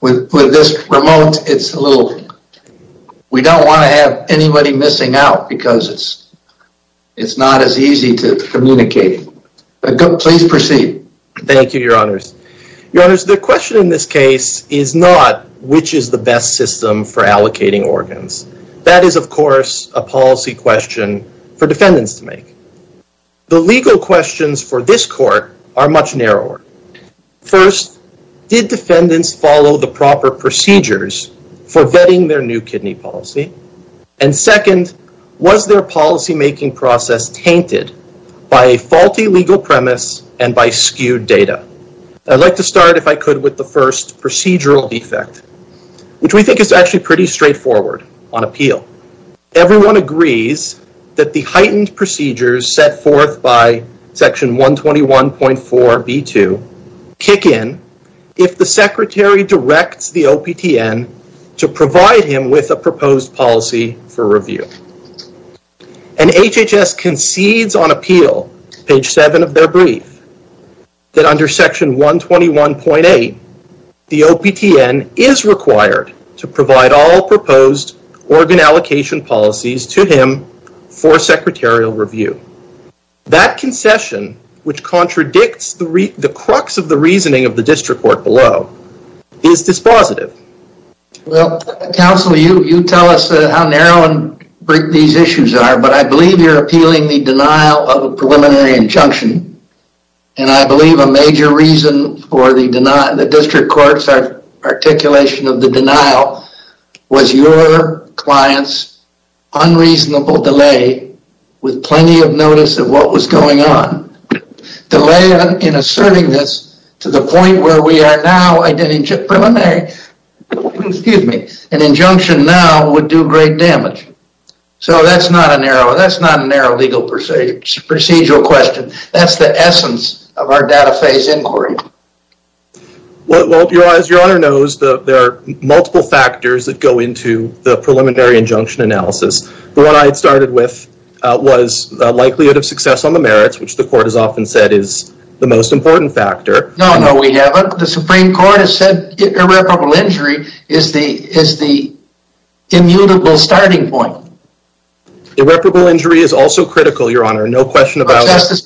With this remote, we don't want to have anybody missing out because it's not as easy to communicate. Please proceed. Thank you, your honors. Your honors, the question in this case is not which is the best system for allocating organs. That is, of course, a policy question for defendants to make. The legal questions for this court are much narrower. First, did defendants follow the proper procedures for vetting their new kidney policy? And second, was their policymaking process tainted by a faulty legal premise and by skewed data? I'd like to start, if I could, with the first procedural defect, which we think is actually pretty straightforward on appeal. So, everyone agrees that the heightened procedures set forth by section 121.4b2 kick in if the secretary directs the OPTN to provide him with a proposed policy for review. And HHS concedes on appeal, page 7 of their brief, that under section 121.8, the OPTN is required to provide all proposed organ allocation policies to him for secretarial review. That concession, which contradicts the crux of the reasoning of the district court below, is dispositive. Well, counsel, you tell us how narrow these issues are, but I believe you're appealing the denial of a preliminary injunction. And I believe a major reason for the district court's articulation of the denial was your client's unreasonable delay with plenty of notice of what was going on. Delay in asserting this to the point where we are now, an injunction now would do great damage. So, that's not a narrow legal procedural question. That's the essence of our data phase inquiry. Well, as your honor knows, there are multiple factors that go into the preliminary injunction analysis. The one I had started with was the likelihood of success on the merits, which the court has often said is the most important factor. No, no, we haven't. The Supreme Court has said irreparable injury is the immutable starting point. Irreparable injury is also critical, your honor. No question about it. Justice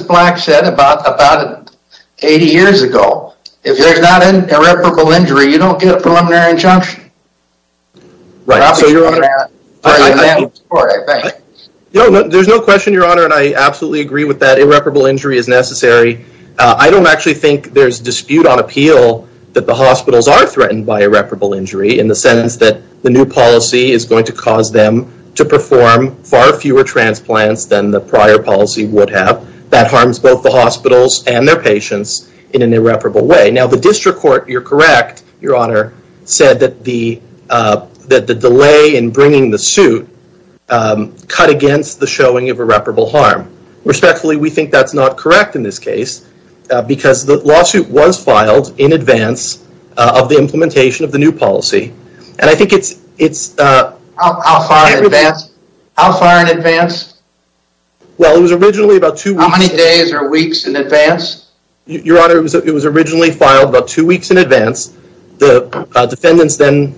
Black said about 80 years ago, if there's not an irreparable injury, you don't get a preliminary injunction. There's no question, your honor, and I absolutely agree with that. Irreparable injury is necessary. I don't actually think there's dispute on appeal that the hospitals are threatened by irreparable injury, in the sense that the new policy is going to cause them to perform far fewer transplants than the prior policy would have. That harms both the hospitals and their patients in an irreparable way. Now, the district court, you're correct, your honor, said that the delay in bringing the suit cut against the showing of irreparable harm. Respectfully, we think that's not correct in this case, because the lawsuit was filed in advance of the implementation of the new policy. And I think it's... How far in advance? Well, it was originally about two... How many days or weeks in advance? Your honor, it was originally filed about two weeks in advance. The defendants then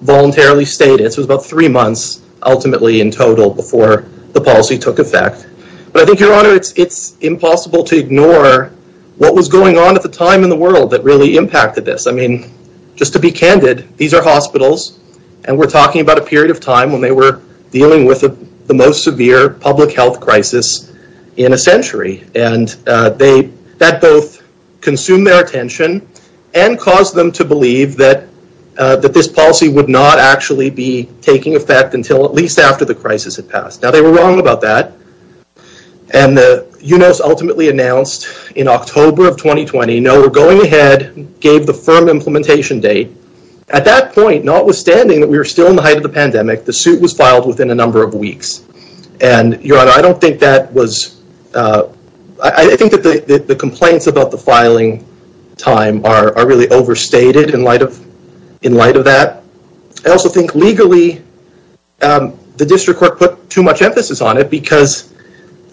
voluntarily stayed. It was about three months, ultimately, in total before the policy took effect. But I think, your honor, it's impossible to ignore what was going on at the time in the world that really impacted this. I mean, just to be candid, these are hospitals, and we're talking about a period of time when they were dealing with the most severe public health crisis in a century. And that both consumed their attention and caused them to believe that this policy would not actually be taking effect until at least after the crisis had passed. Now, they were wrong about that. And the UNOS ultimately announced in October of 2020, no, we're going ahead, gave the firm implementation date. At that point, notwithstanding that we were still in the height of the pandemic, the suit was filed within a number of weeks. And, your honor, I don't think that was... I think that the complaints about the filing time are really overstated in light of that. I also think, legally, the district court put too much emphasis on it because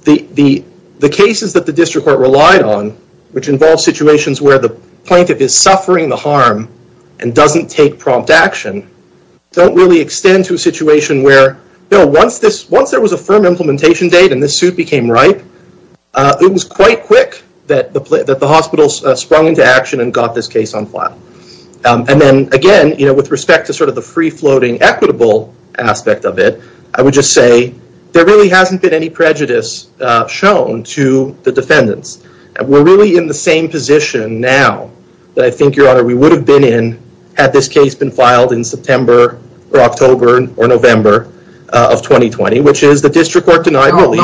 the cases that the district court relied on, which involved situations where the plaintiff is suffering the harm and doesn't take prompt action, don't really extend to a situation where, once there was a firm implementation date and this suit became ripe, it was quite quick that the hospital sprung into action and got this case on file. And then, again, with respect to sort of the free-floating equitable aspect of it, I would just say there really hasn't been any prejudice shown to the defendants. We're really in the same position now that I think, your honor, we would have been in had this case been filed in September or October or November of 2020, which is the district court denied relief.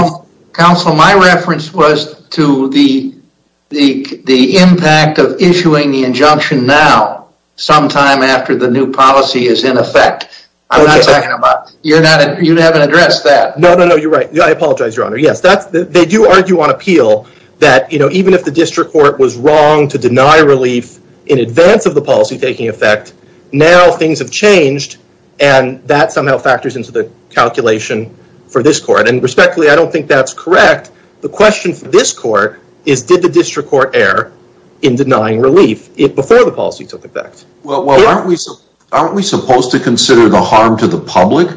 Counsel, my reference was to the impact of issuing the injunction now, sometime after the new policy is in effect. I'm not talking about... You haven't addressed that. No, no, no, you're right. I apologize, your honor. Yes, they do argue on appeal that even if the district court was wrong to deny relief in advance of the policy taking effect, now things have changed and that somehow factors into the calculation for this court. And respectfully, I don't think that's correct. The question for this court is did the district court err in denying relief before the policy took effect? Well, aren't we supposed to consider the harm to the public?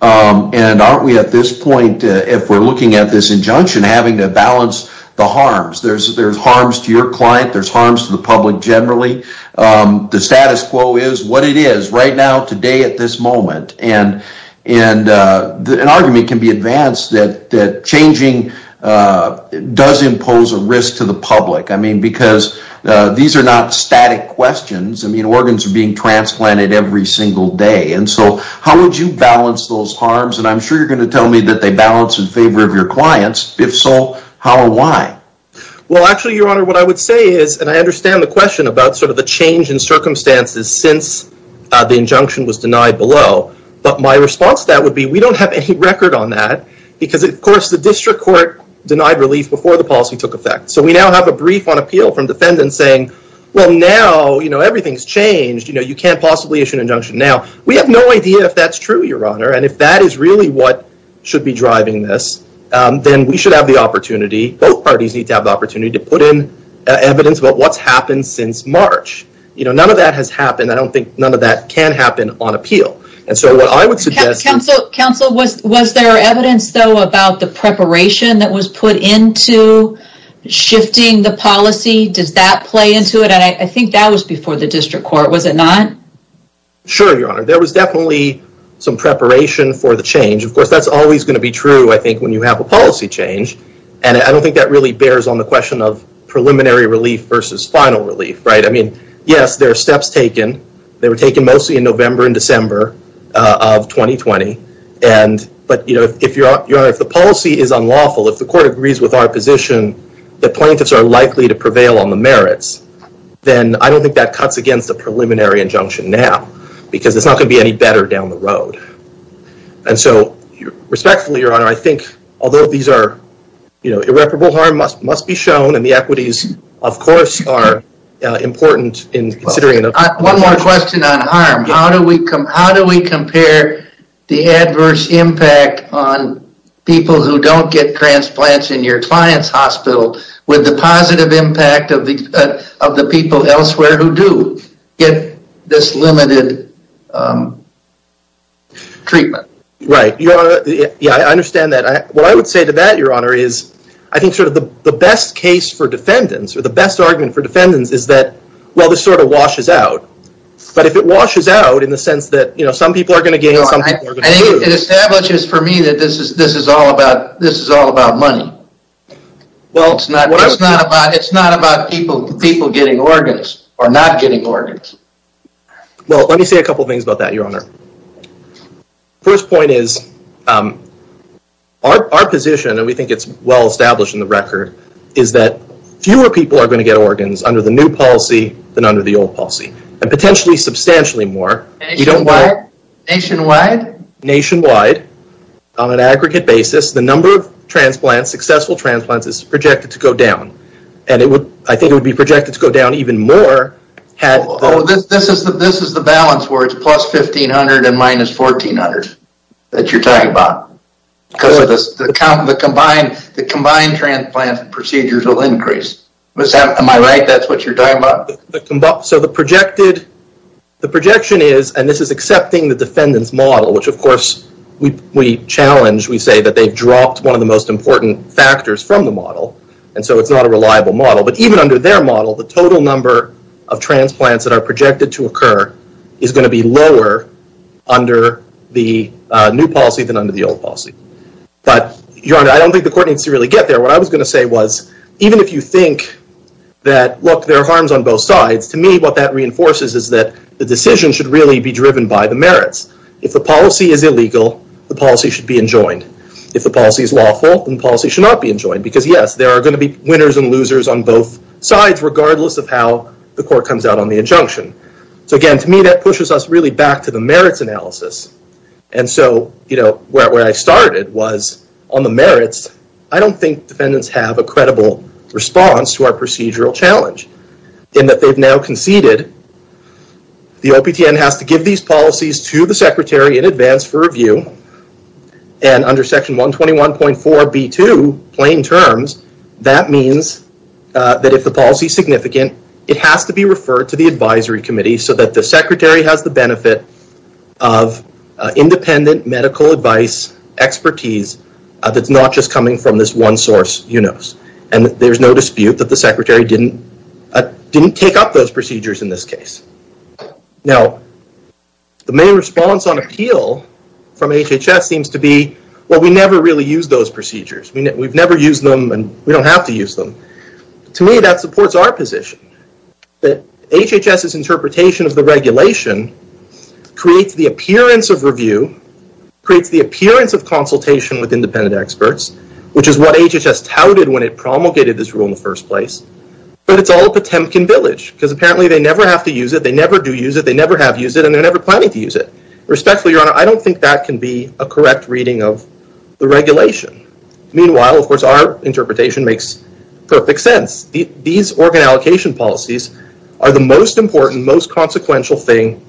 And aren't we at this point, if we're looking at this injunction, having to balance the harms? There's harms to your client, there's harms to the public generally. The status quo is what it is right now, today, at this moment. And an argument can be advanced that changing does impose a risk to the public. I mean, because these are not static questions. I mean, organs are being transplanted every single day. And so how would you balance those harms? And I'm sure you're going to tell me that they balance in favor of your clients. If so, how and why? Well, actually, Your Honor, what I would say is, and I understand the question about the change in circumstances since the injunction was denied below. But my response to that would be we don't have any record on that. Because, of course, the district court denied relief before the policy took effect. So we now have a brief on appeal from defendants saying, well, now everything's changed, you can't possibly issue an injunction now. We have no idea if that's true, Your Honor. And if that is really what should be driving this, then we should have the opportunity, both parties need to have the opportunity, to put in evidence about what's happened since March. You know, none of that has happened. I don't think none of that can happen on appeal. And so what I would suggest... Counsel, was there evidence, though, about the preparation that was put into shifting the policy? Does that play into it? And I think that was before the district court, was it not? Sure, Your Honor. There was definitely some preparation for the change. Of course, that's always going to be true, I think, when you have a policy change. And I don't think that really bears on the question of preliminary relief versus final relief, right? I mean, yes, there are steps taken. They were taken mostly in November and December of 2020. But, you know, if the policy is unlawful, if the court agrees with our position that plaintiffs are likely to prevail on the merits, then I don't think that cuts against a preliminary injunction now. Because it's not going to be any better down the road. And so, respectfully, Your Honor, I think, although these are, you know, irreparable harm must be shown and the equities, of course, are important in considering... One more question on harm. How do we compare the adverse impact on people who don't get transplants in your client's hospital with the positive impact of the people elsewhere who do get this limited treatment? Right. Yeah, I understand that. What I would say to that, Your Honor, is I think sort of the best case for defendants or the best argument for defendants is that, well, this sort of washes out. But if it washes out in the sense that, you know, some people are going to gain and some people are going to lose... I think it establishes for me that this is all about money. Well, it's not about people getting organs or not getting organs. Well, let me say a couple of things about that, Your Honor. First point is our position, and we think it's well established in the record, is that fewer people are going to get organs under the new policy than under the old policy. And potentially substantially more. Nationwide? Nationwide. On an aggregate basis, the number of transplants, successful transplants, is projected to go down. And I think it would be projected to go down even more had... This is the balance where it's plus 1,500 and minus 1,400 that you're talking about. Because the combined transplant procedures will increase. Am I right? That's what you're talking about? So the projection is, and this is accepting the defendant's model, which of course we challenge. We say that they've dropped one of the most important factors from the model. And so it's not a reliable model. But even under their model, the total number of transplants that are projected to occur is going to be lower under the new policy than under the old policy. But, Your Honor, I don't think the court needs to really get there. What I was going to say was, even if you think that, look, there are harms on both sides, to me what that reinforces is that the decision should really be driven by the merits. If the policy is illegal, the policy should be enjoined. If the policy is lawful, then the policy should not be enjoined. Because, yes, there are going to be winners and losers on both sides, regardless of how the court comes out on the injunction. So, again, to me that pushes us really back to the merits analysis. And so, you know, where I started was on the merits, I don't think defendants have a credible response to our procedural challenge. In that they've now conceded the OPTN has to give these policies to the secretary in advance for review. And under Section 121.4b2, plain terms, that means that if the policy is significant, it has to be referred to the advisory committee, so that the secretary has the benefit of independent medical advice expertise that's not just coming from this one source, you know. And there's no dispute that the secretary didn't take up those procedures in this case. Now, the main response on appeal from HHS seems to be, well, we never really use those procedures. We've never used them and we don't have to use them. To me, that supports our position. That HHS's interpretation of the regulation creates the appearance of review, creates the appearance of consultation with independent experts, which is what HHS touted when it promulgated this rule in the first place. But it's all a Potemkin village, because apparently they never have to use it, they never do use it, they never have used it, and they're never planning to use it. Respectfully, Your Honor, I don't think that can be a correct reading of the regulation. Meanwhile, of course, our interpretation makes perfect sense. These organ allocation policies are the most important, most consequential thing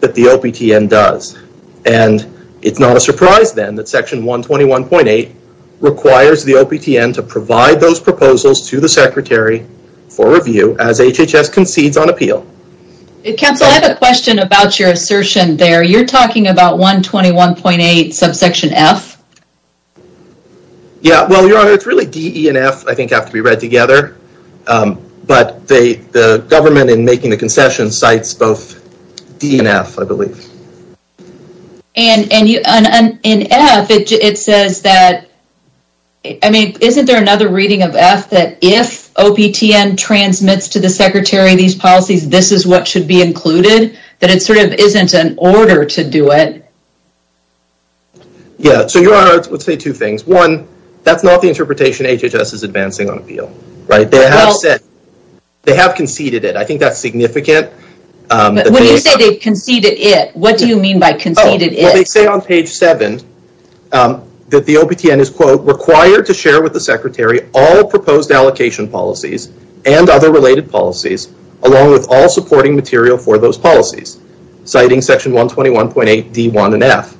that the OPTN does. And it's not a surprise then that Section 121.8 requires the OPTN to provide those proposals to the secretary for review as HHS concedes on appeal. Counsel, I have a question about your assertion there. You're talking about 121.8 subsection F? Yeah, well, Your Honor, it's really D, E, and F, I think, have to be read together. But the government in making the concession cites both D and F, I believe. And in F, it says that, I mean, isn't there another reading of F that if OPTN transmits to the secretary these policies, this is what should be included? That it sort of isn't an order to do it? Yeah, so, Your Honor, I would say two things. One, that's not the interpretation HHS is advancing on appeal. They have conceded it. I think that's significant. But when you say they've conceded it, what do you mean by conceded it? Well, they say on page 7 that the OPTN is, quote, required to share with the secretary all proposed allocation policies and other related policies along with all supporting material for those policies, citing section 121.8, D, 1, and F.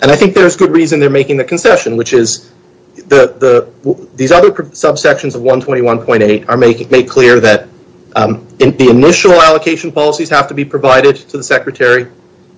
And I think there's good reason they're making the concession, which is these other subsections of 121.8 make clear that the initial allocation policies have to be provided to the secretary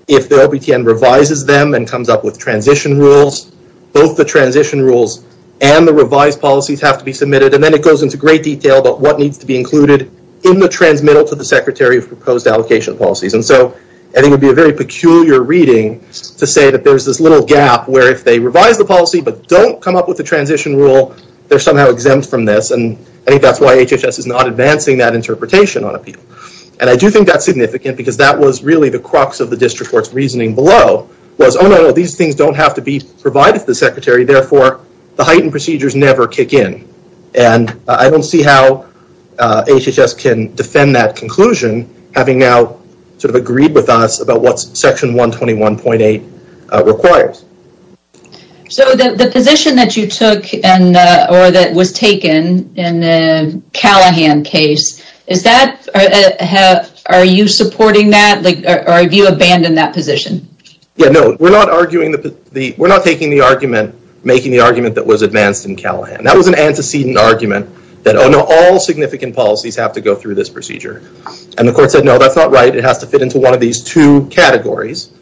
if the OPTN revises them and comes up with transition rules. Both the transition rules and the revised policies have to be submitted. And then it goes into great detail about what needs to be included in the transmittal to the secretary of proposed allocation policies. And so I think it would be a very peculiar reading to say that there's this little gap where if they revise the policy but don't come up with a transition rule, they're somehow exempt from this. And I think that's why HHS is not advancing that interpretation on appeal. And I do think that's significant because that was really the crux of the district court's reasoning below was, oh, no, no, these things don't have to be provided to the secretary. Therefore, the heightened procedures never kick in. And I don't see how HHS can defend that conclusion having now sort of agreed with us about what section 121.8 requires. So the position that you took or that was taken in the Callahan case, are you supporting that or have you abandoned that position? Yeah, no, we're not taking the argument, making the argument that was advanced in Callahan. That was an antecedent argument that all significant policies have to go through this procedure. And the court said, no, that's not right. It has to fit into one of these two categories.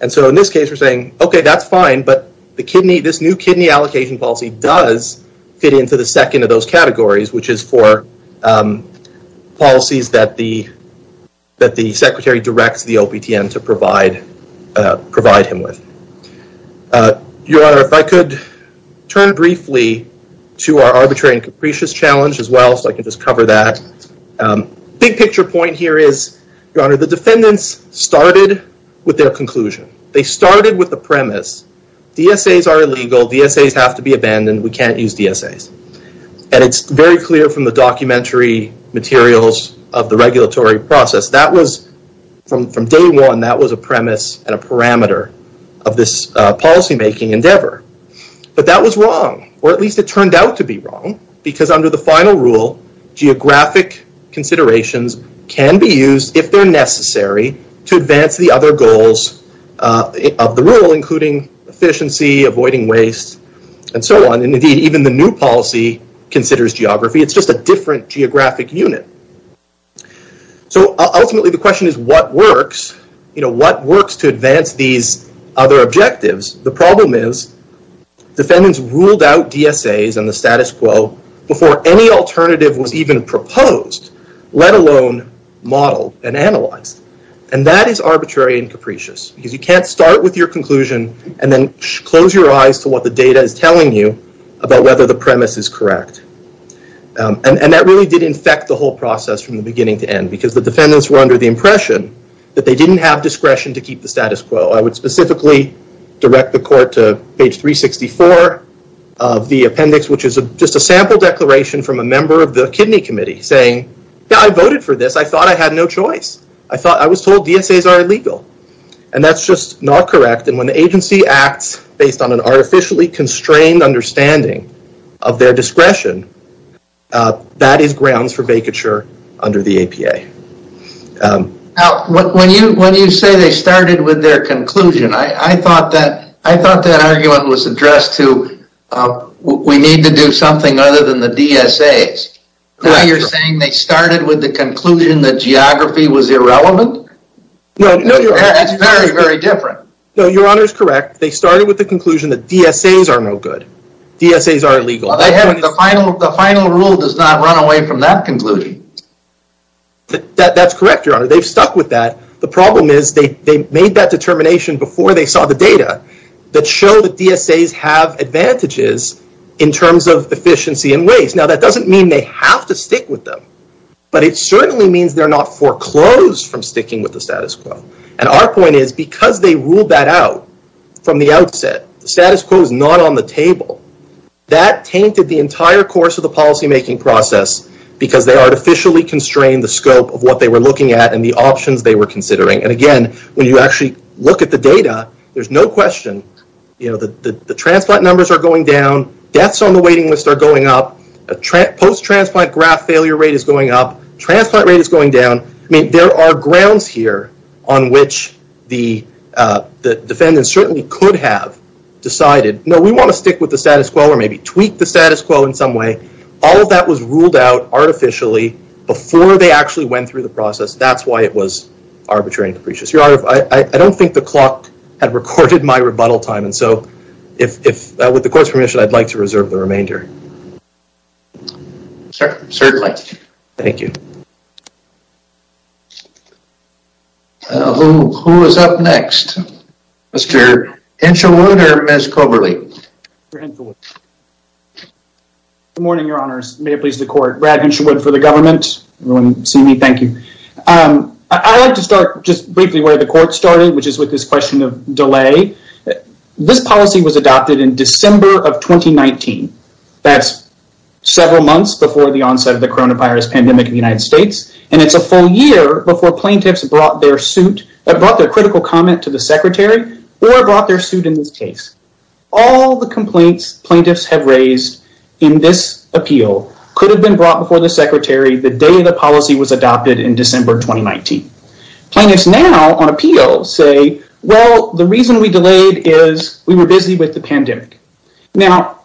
And so in this case, we're saying, okay, that's fine, but this new kidney allocation policy does fit into the second of those categories, which is for policies that the secretary directs the OPTM to provide him with. Your Honor, if I could turn briefly to our arbitrary and capricious challenge as well, so I can just cover that. Big picture point here is, Your Honor, the defendants started with their conclusion. They started with the premise. DSAs are illegal. DSAs have to be abandoned. We can't use DSAs. And it's very clear from the documentary materials of the regulatory process. From day one, that was a premise and a parameter of this policymaking endeavor. But that was wrong, or at least it turned out to be wrong, because under the final rule, geographic considerations can be used, if they're necessary, to advance the other goals of the rule, including efficiency, avoiding waste, and so on. And indeed, even the new policy considers geography. It's just a different geographic unit. So ultimately, the question is, what works? What works to advance these other objectives? The problem is defendants ruled out DSAs and the status quo before any alternative was even proposed, let alone modeled and analyzed. And that is arbitrary and capricious, because you can't start with your conclusion and then close your eyes to what the data is telling you about whether the premise is correct. And that really did infect the whole process from the beginning to end, because the defendants were under the impression that they didn't have discretion to keep the status quo. I would specifically direct the court to page 364 of the appendix, which is just a sample declaration from a member of the kidney committee, saying, yeah, I voted for this. I thought I had no choice. I was told DSAs are illegal. And that's just not correct. And when the agency acts based on an artificially constrained understanding of their discretion, that is grounds for vacature under the APA. Now, when you say they started with their conclusion, I thought that argument was addressed to we need to do something other than the DSAs. Now you're saying they started with the conclusion that geography was irrelevant? No, Your Honor. That's very, very different. No, Your Honor is correct. They started with the conclusion that DSAs are no good. DSAs are illegal. The final rule does not run away from that conclusion. That's correct, Your Honor. They've stuck with that. The problem is they made that determination before they saw the data that show that DSAs have advantages in terms of efficiency and ways. Now, that doesn't mean they have to stick with them, but it certainly means they're not foreclosed from sticking with the status quo. And our point is because they ruled that out from the outset, the status quo is not on the table. That tainted the entire course of the policymaking process because they artificially constrained the scope of what they were looking at and the options they were considering. And, again, when you actually look at the data, there's no question. The transplant numbers are going down. Deaths on the waiting list are going up. Post-transplant graft failure rate is going up. Transplant rate is going down. There are grounds here on which the defendant certainly could have decided, no, we want to stick with the status quo or maybe tweak the status quo in some way. All of that was ruled out artificially before they actually went through the process. That's why it was arbitrary and capricious. Your Honor, I don't think the clock had recorded my rebuttal time, and so with the court's permission, I'd like to reserve the remainder. Certainly. Thank you. Who is up next? Mr. Henshawood. Good morning, Your Honors. May it please the court. Brad Henshawood for the government. Everyone see me? Thank you. I'd like to start just briefly where the court started, which is with this question of delay. This policy was adopted in December of 2019. That's several months before the onset of the coronavirus pandemic in the United States, and it's a full year before plaintiffs brought their critical comment to the Secretary or brought their suit in this case. All the complaints plaintiffs have raised in this appeal could have been brought before the Secretary the day the policy was adopted in December 2019. Plaintiffs now on appeal say, well, the reason we delayed is we were busy with the pandemic. Now,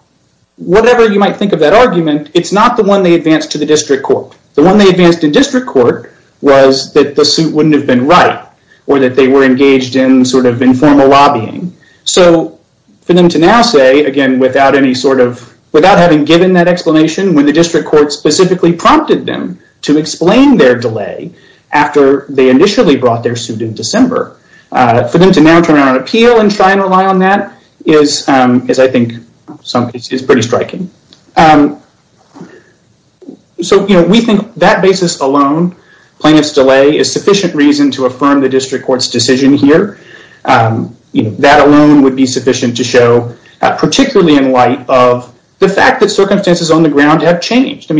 whatever you might think of that argument, it's not the one they advanced to the district court. The one they advanced in district court was that the suit wouldn't have been right or that they were engaged in sort of informal lobbying. So for them to now say, again, without having given that explanation, when the district court specifically prompted them to explain their delay after they initially brought their suit in December, for them to now turn out on appeal and try and rely on that is, I think, is pretty striking. So we think that basis alone, plaintiff's delay is sufficient reason to affirm the district court's decision here. That alone would be sufficient to show, particularly in light of the fact that circumstances on the ground have changed.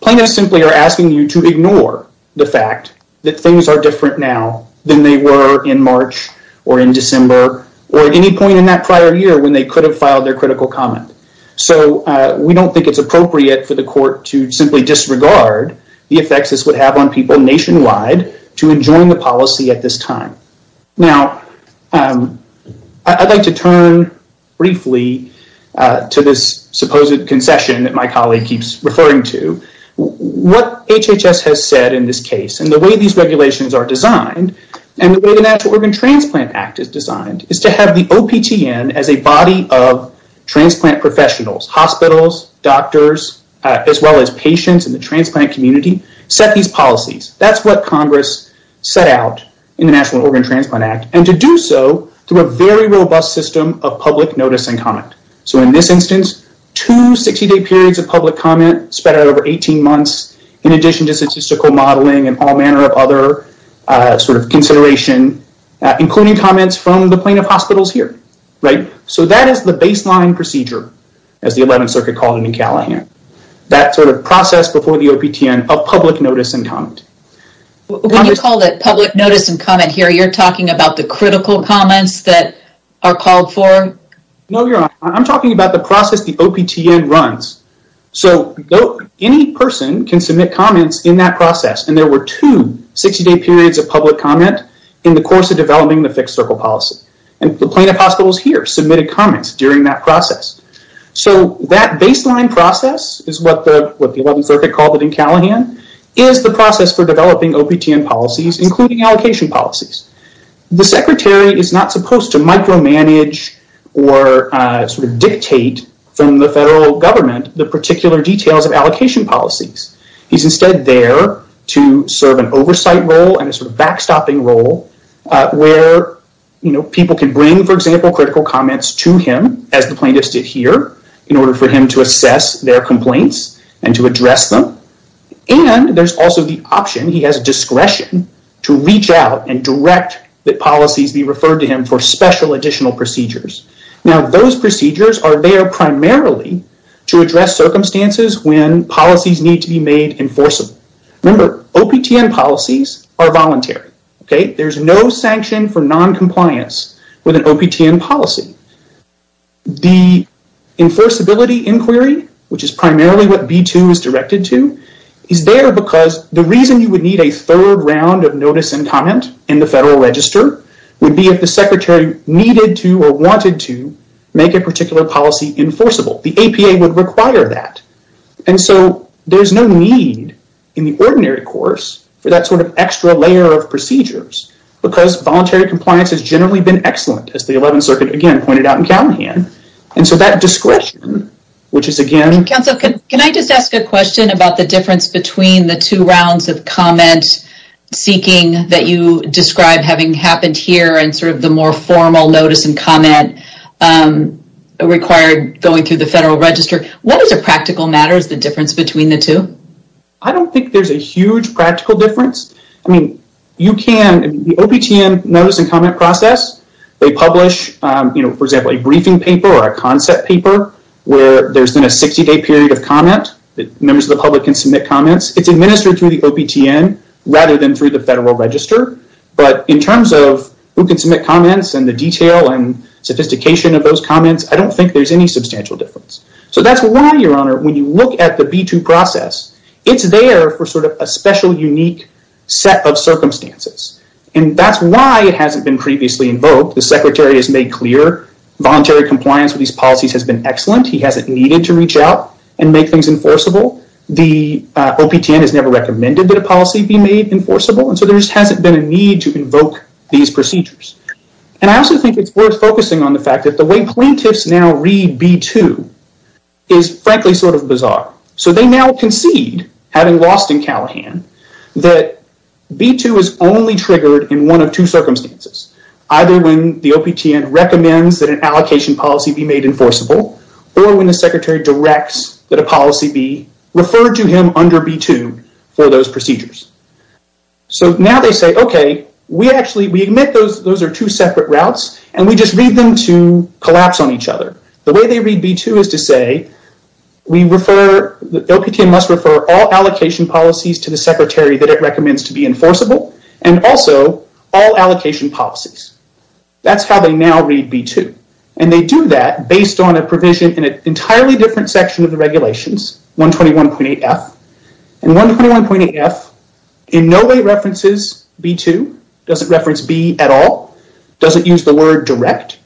Plaintiffs simply are asking you to ignore the fact that things are different now than they were in March or in December or at any point in that prior year when they could have filed their critical comment. So we don't think it's appropriate for the court to simply disregard the effects this would have on people nationwide to enjoin the policy at this time. Now, I'd like to turn briefly to this supposed concession that my colleague keeps referring to. What HHS has said in this case and the way these regulations are designed and the way the Natural Organ Transplant Act is designed is to have the OPTN as a body of transplant professionals, hospitals, doctors, as well as patients in the transplant community, set these policies. That's what Congress set out in the National Organ Transplant Act and to do so through a very robust system of public notice and comment. So in this instance, two 60-day periods of public comment spread out over 18 months in addition to statistical modeling and all manner of other consideration, including comments from the plaintiff hospitals here. So that is the baseline procedure, as the 11th Circuit called it in Callahan, that sort of process before the OPTN of public notice and comment. When you call it public notice and comment here, you're talking about the critical comments that are called for? No, you're not. I'm talking about the process the OPTN runs. So any person can submit comments in that process, and there were two 60-day periods of public comment in the course of developing the fixed-circle policy, and the plaintiff hospitals here submitted comments during that process. So that baseline process is what the 11th Circuit called it in Callahan, is the process for developing OPTN policies, including allocation policies. The secretary is not supposed to micromanage or dictate from the federal government the particular details of allocation policies. He's instead there to serve an oversight role as the plaintiff stood here, in order for him to assess their complaints and to address them. And there's also the option, he has discretion, to reach out and direct that policies be referred to him for special additional procedures. Now, those procedures are there primarily to address circumstances when policies need to be made enforceable. Remember, OPTN policies are voluntary. There's no sanction for noncompliance with an OPTN policy. The enforceability inquiry, which is primarily what B2 is directed to, is there because the reason you would need a third round of notice and comment in the federal register would be if the secretary needed to or wanted to make a particular policy enforceable. The APA would require that. And so there's no need in the ordinary course for that sort of extra layer of procedures because voluntary compliance has generally been excellent, as the 11th Circuit again pointed out in Callahan. And so that discretion, which is again... Counsel, can I just ask a question about the difference between the two rounds of comment seeking that you describe having happened here and sort of the more formal notice and comment required going through the federal register? What is a practical matter is the difference between the two? I don't think there's a huge practical difference. I mean, you can... The OPTN notice and comment process, they publish, you know, for example, a briefing paper or a concept paper where there's been a 60-day period of comment. Members of the public can submit comments. It's administered through the OPTN rather than through the federal register. But in terms of who can submit comments and the detail and sophistication of those comments, I don't think there's any substantial difference. So that's why, Your Honor, when you look at the B2 process, it's there for sort of a special, unique set of circumstances. And that's why it hasn't been previously invoked. The secretary has made clear voluntary compliance with these policies has been excellent. He hasn't needed to reach out and make things enforceable. The OPTN has never recommended that a policy be made enforceable. And so there just hasn't been a need to invoke these procedures. And I also think it's worth focusing on the fact that the way plaintiffs now read B2 is frankly sort of bizarre. So they now concede, having lost in Callahan, that B2 is only triggered in one of two circumstances, either when the OPTN recommends that an allocation policy be made enforceable or when the secretary directs that a policy be referred to him under B2 for those procedures. So now they say, OK, we actually... We admit those are two separate routes, and we just read them to collapse on each other. The way they read B2 is to say we refer... The OPTN must refer all allocation policies to the secretary that it recommends to be enforceable and also all allocation policies. That's how they now read B2. And they do that based on a provision in an entirely different section of the regulations, 121.8F. And 121.8F in no way references B2, doesn't reference B at all, doesn't use the word direct,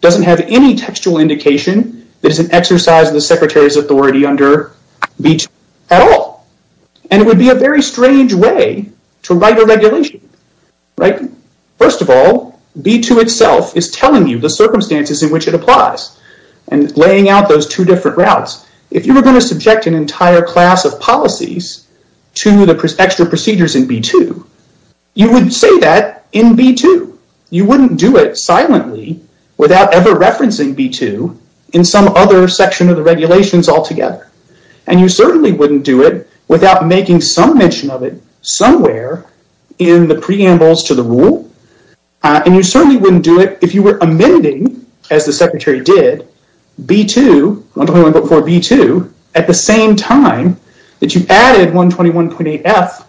doesn't have any textual indication that it's an exercise of the secretary's authority under B2 at all. And it would be a very strange way to write a regulation, right? First of all, B2 itself is telling you the circumstances in which it applies and laying out those two different routes. If you were going to subject an entire class of policies to the extra procedures in B2, you would say that in B2. You wouldn't do it silently without ever referencing B2 in some other section of the regulations altogether. And you certainly wouldn't do it without making some mention of it somewhere in the preambles to the rule. And you certainly wouldn't do it if you were amending, as the secretary did, B2, 121.4B2, at the same time that you added 121.8F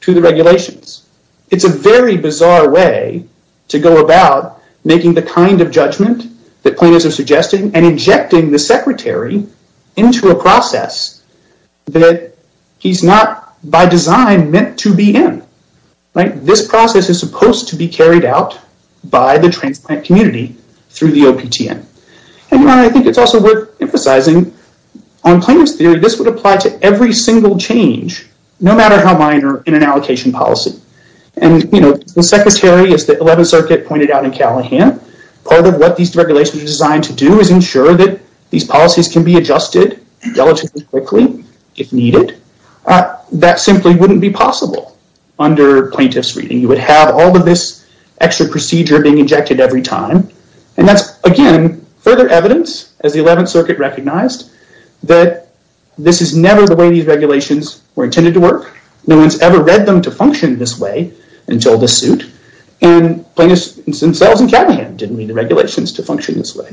to the regulations. It's a very bizarre way to go about making the kind of judgment that plaintiffs are suggesting and injecting the secretary into a process that he's not, by design, meant to be in, right? This process is supposed to be carried out by the transplant community through the OPTN. I think it's also worth emphasizing, on plaintiff's theory, this would apply to every single change, no matter how minor, in an allocation policy. And the secretary, as the 11th Circuit pointed out in Callahan, part of what these regulations are designed to do is ensure that these policies can be adjusted relatively quickly, if needed. That simply wouldn't be possible under plaintiff's reading. You would have all of this extra procedure being injected every time. And that's, again, further evidence, as the 11th Circuit recognized, that this is never the way these regulations were intended to work. No one's ever read them to function this way until the suit. And plaintiffs themselves in Callahan didn't read the regulations to function this way.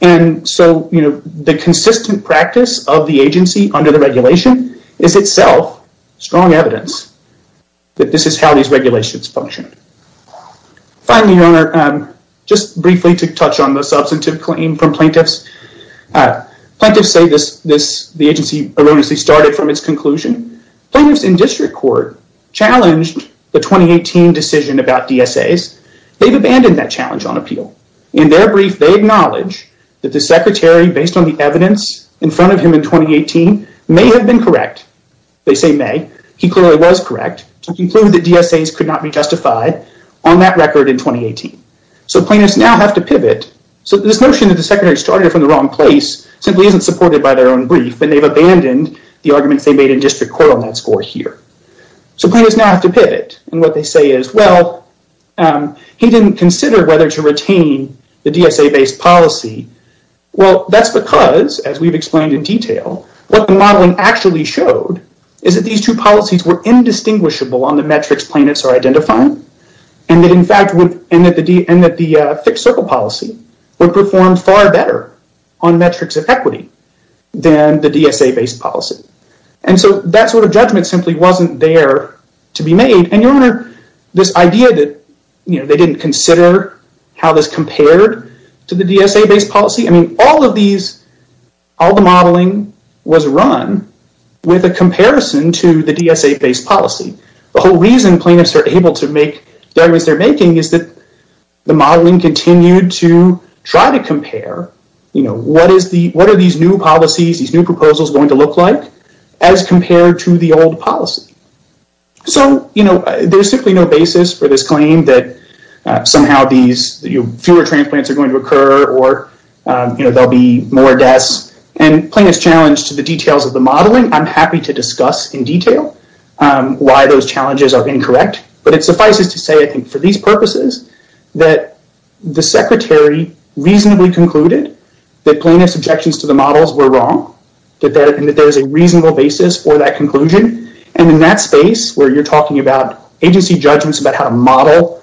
And so, you know, the consistent practice of the agency under the regulation is itself strong evidence that this is how these regulations function. Finally, Your Honor, just briefly to touch on the substantive claim from plaintiffs. Plaintiffs say the agency erroneously started from its conclusion. Plaintiffs in district court challenged the 2018 decision about DSAs. They've abandoned that challenge on appeal. In their brief, they acknowledge that the secretary, based on the evidence in front of him in 2018, may have been correct. They say may. He clearly was correct to conclude that DSAs could not be justified on that record in 2018. So plaintiffs now have to pivot. So this notion that the secretary started from the wrong place simply isn't supported by their own brief, and they've abandoned the arguments they made in district court on that score here. So plaintiffs now have to pivot, and what they say is, well, he didn't consider whether to retain the DSA-based policy. Well, that's because, as we've explained in detail, what the modeling actually showed is that these two policies were indistinguishable on the metrics plaintiffs are identifying, and that, in fact, the fixed circle policy would perform far better on metrics of equity than the DSA-based policy. And so that sort of judgment simply wasn't there to be made, and this idea that they didn't consider how this compared to the DSA-based policy, I mean, all of the modeling was run with a comparison to the DSA-based policy. The whole reason plaintiffs are able to make the arguments they're making is that the modeling continued to try to compare, you know, what are these new policies, these new proposals going to look like as compared to the old policy? So, you know, there's simply no basis for this claim that somehow these fewer transplants are going to occur or, you know, there'll be more deaths, and plaintiffs challenged the details of the modeling. I'm happy to discuss in detail why those challenges are incorrect, but it suffices to say, I think, for these purposes, that the secretary reasonably concluded that plaintiffs' objections to the models were wrong, and that there's a reasonable basis for that conclusion. And in that space where you're talking about agency judgments about how to model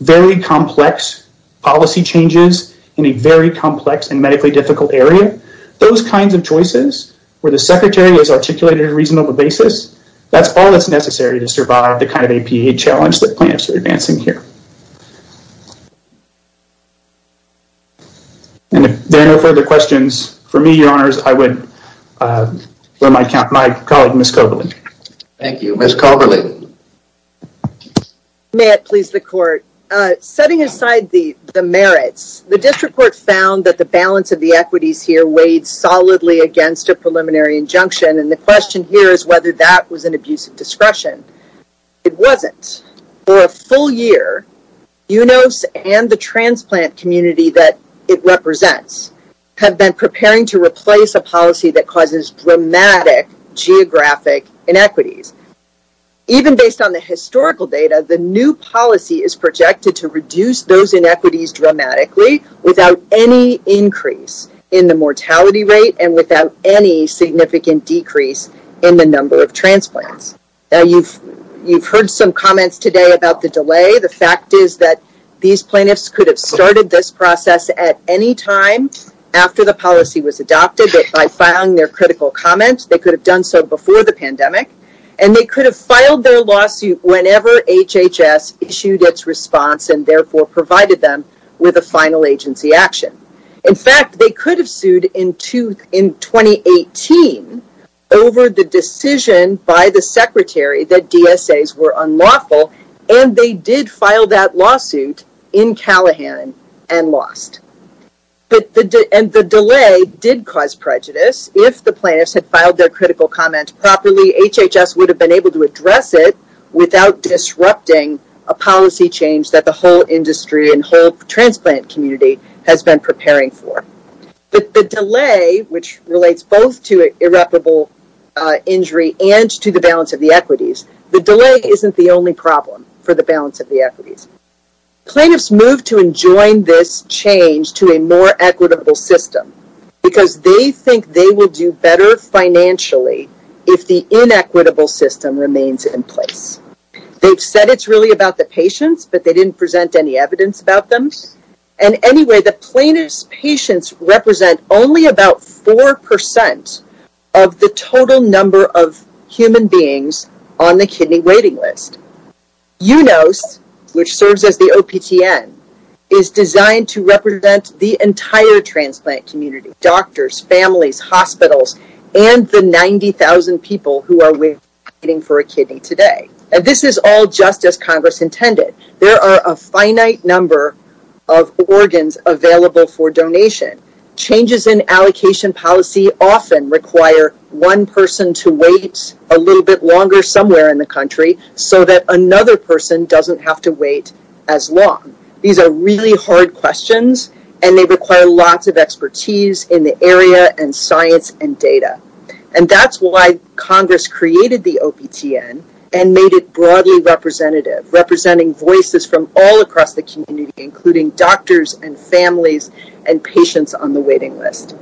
very complex policy changes in a very complex and medically difficult area, those kinds of choices where the secretary has articulated a reasonable basis, that's all that's necessary to survive the kind of APA challenge that plaintiffs are advancing here. And if there are no further questions, for me, Your Honors, I would let my colleague, Ms. Colberley. Thank you. Ms. Colberley. May it please the Court. Setting aside the merits, the district court found that the balance of the equities here weighed solidly against a preliminary injunction, and the question here is whether that was an abuse of discretion. It wasn't. For a full year, UNOS and the transplant community that it represents have been preparing to replace a policy that causes dramatic geographic inequities. Even based on the historical data, the new policy is projected to reduce those inequities dramatically without any increase in the mortality rate and without any significant decrease in the number of transplants. Now, you've heard some comments today about the delay. The fact is that these plaintiffs could have started this process at any time after the policy was adopted, that by filing their critical comments, they could have done so before the pandemic, and they could have filed their lawsuit whenever HHS issued its response and therefore provided them with a final agency action. In fact, they could have sued in 2018 over the decision by the secretary that DSAs were unlawful, and they did file that lawsuit in Callahan and lost. And the delay did cause prejudice. If the plaintiffs had filed their critical comment properly, HHS would have been able to address it without disrupting a policy change that the whole industry and whole transplant community has been preparing for. But the delay, which relates both to irreparable injury and to the balance of the equities, the delay isn't the only problem for the balance of the equities. Plaintiffs moved to enjoin this change to a more equitable system because they think they will do better financially if the inequitable system remains in place. They've said it's really about the patients, but they didn't present any evidence about them. And anyway, the plaintiffs' patients represent only about 4% of the total number of human beings on the kidney waiting list. UNOS, which serves as the OPTN, is designed to represent the entire transplant community, doctors, families, hospitals, and the 90,000 people who are waiting for a kidney today. And this is all just as Congress intended. There are a finite number of organs available for donation. Changes in allocation policy often require one person to wait a little bit longer somewhere in the country so that another person doesn't have to wait as long. These are really hard questions, and they require lots of expertise in the area and science and data. And that's why Congress created the OPTN and made it broadly representative, representing voices from all across the community, including doctors and families and patients on the waiting list.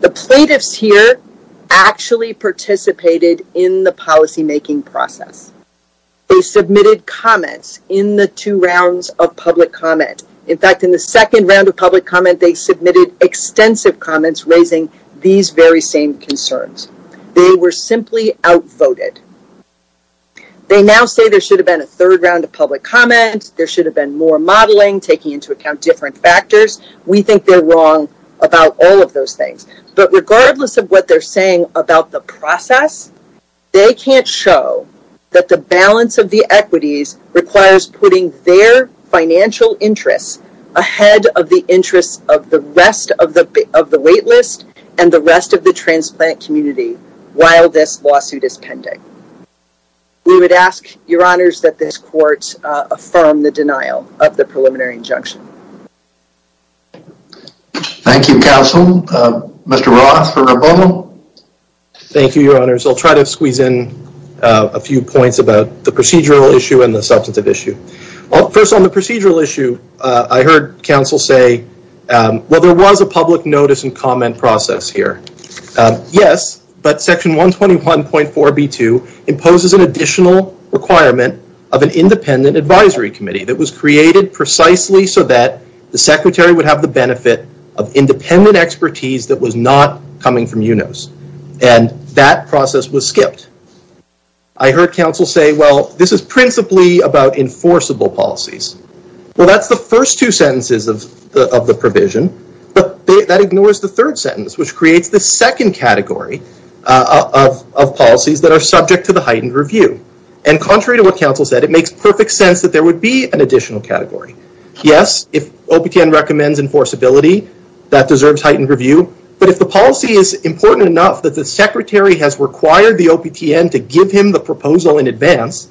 The plaintiffs here actually participated in the policymaking process. They submitted comments in the two rounds of public comment. In fact, in the second round of public comment, they submitted extensive comments raising these very same concerns. They were simply outvoted. They now say there should have been a third round of public comment, there should have been more modeling, taking into account different factors. We think they're wrong about all of those things. But regardless of what they're saying about the process, they can't show that the balance of the equities requires putting their financial interests ahead of the interests of the rest of the wait list and the rest of the transplant community while this lawsuit is pending. We would ask, Your Honors, that this court affirm the denial of the preliminary injunction. Thank you, counsel. Mr. Ross for Rapono. Thank you, Your Honors. I'll try to squeeze in a few points about the procedural issue and the substantive issue. First, on the procedural issue, I heard counsel say, well, there was a public notice and comment process here. Yes, but section 121.4b2 imposes an additional requirement of an independent advisory committee that was created precisely so that the secretary would have the benefit of independent expertise that was not coming from UNOS. And that process was skipped. I heard counsel say, well, this is principally about enforceable policies. Well, that's the first two sentences of the provision, but that ignores the third sentence, which creates the second category of policies that are subject to the heightened review. And contrary to what counsel said, it makes perfect sense that there would be an additional category. Yes, if OPTN recommends enforceability, that deserves heightened review. But if the policy is important enough that the secretary has required the OPTN to give him the proposal in advance,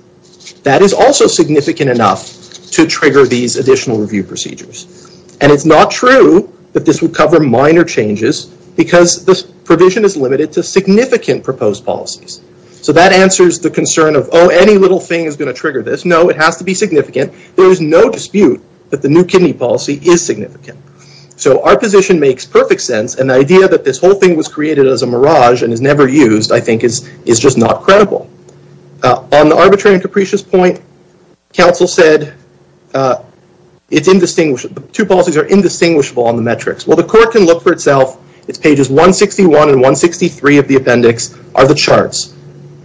that is also significant enough to trigger these additional review procedures. And it's not true that this would cover minor changes because this provision is limited to significant proposed policies. So that answers the concern of, oh, any little thing is going to trigger this. No, it has to be significant. There is no dispute that the new kidney policy is significant. So our position makes perfect sense. And the idea that this whole thing was created as a mirage and is never used, I think, is just not credible. On the arbitrary and capricious point, counsel said it's indistinguishable. The two policies are indistinguishable on the metrics. Well, the court can look for itself. It's pages 161 and 163 of the appendix are the charts.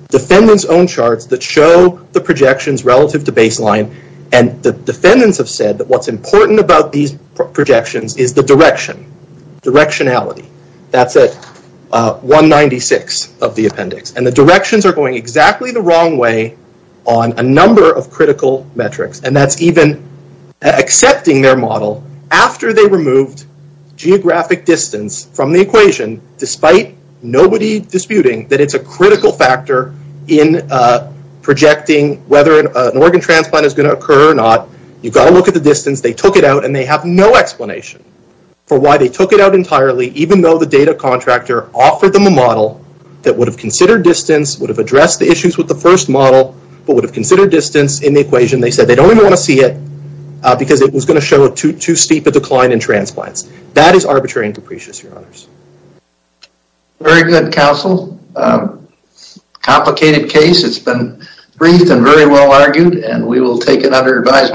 Defendants own charts that show the projections relative to baseline. And the defendants have said that what's important about these projections is the direction, directionality. That's at 196 of the appendix. And the directions are going exactly the wrong way on a number of critical metrics. And that's even accepting their model after they removed geographic distance from the equation, despite nobody disputing that it's a critical factor in projecting whether an organ transplant is going to occur or not. You've got to look at the distance. They took it out, and they have no explanation for why they took it out entirely, even though the data contractor offered them a model that would have considered distance, would have addressed the issues with the first model, but would have considered distance in the equation. They said they don't even want to see it because it was going to show too steep a decline in transplants. That is arbitrary and capricious, your honors. Very good, counsel. Complicated case. It's been briefed and very well argued, and we will take it under advisement.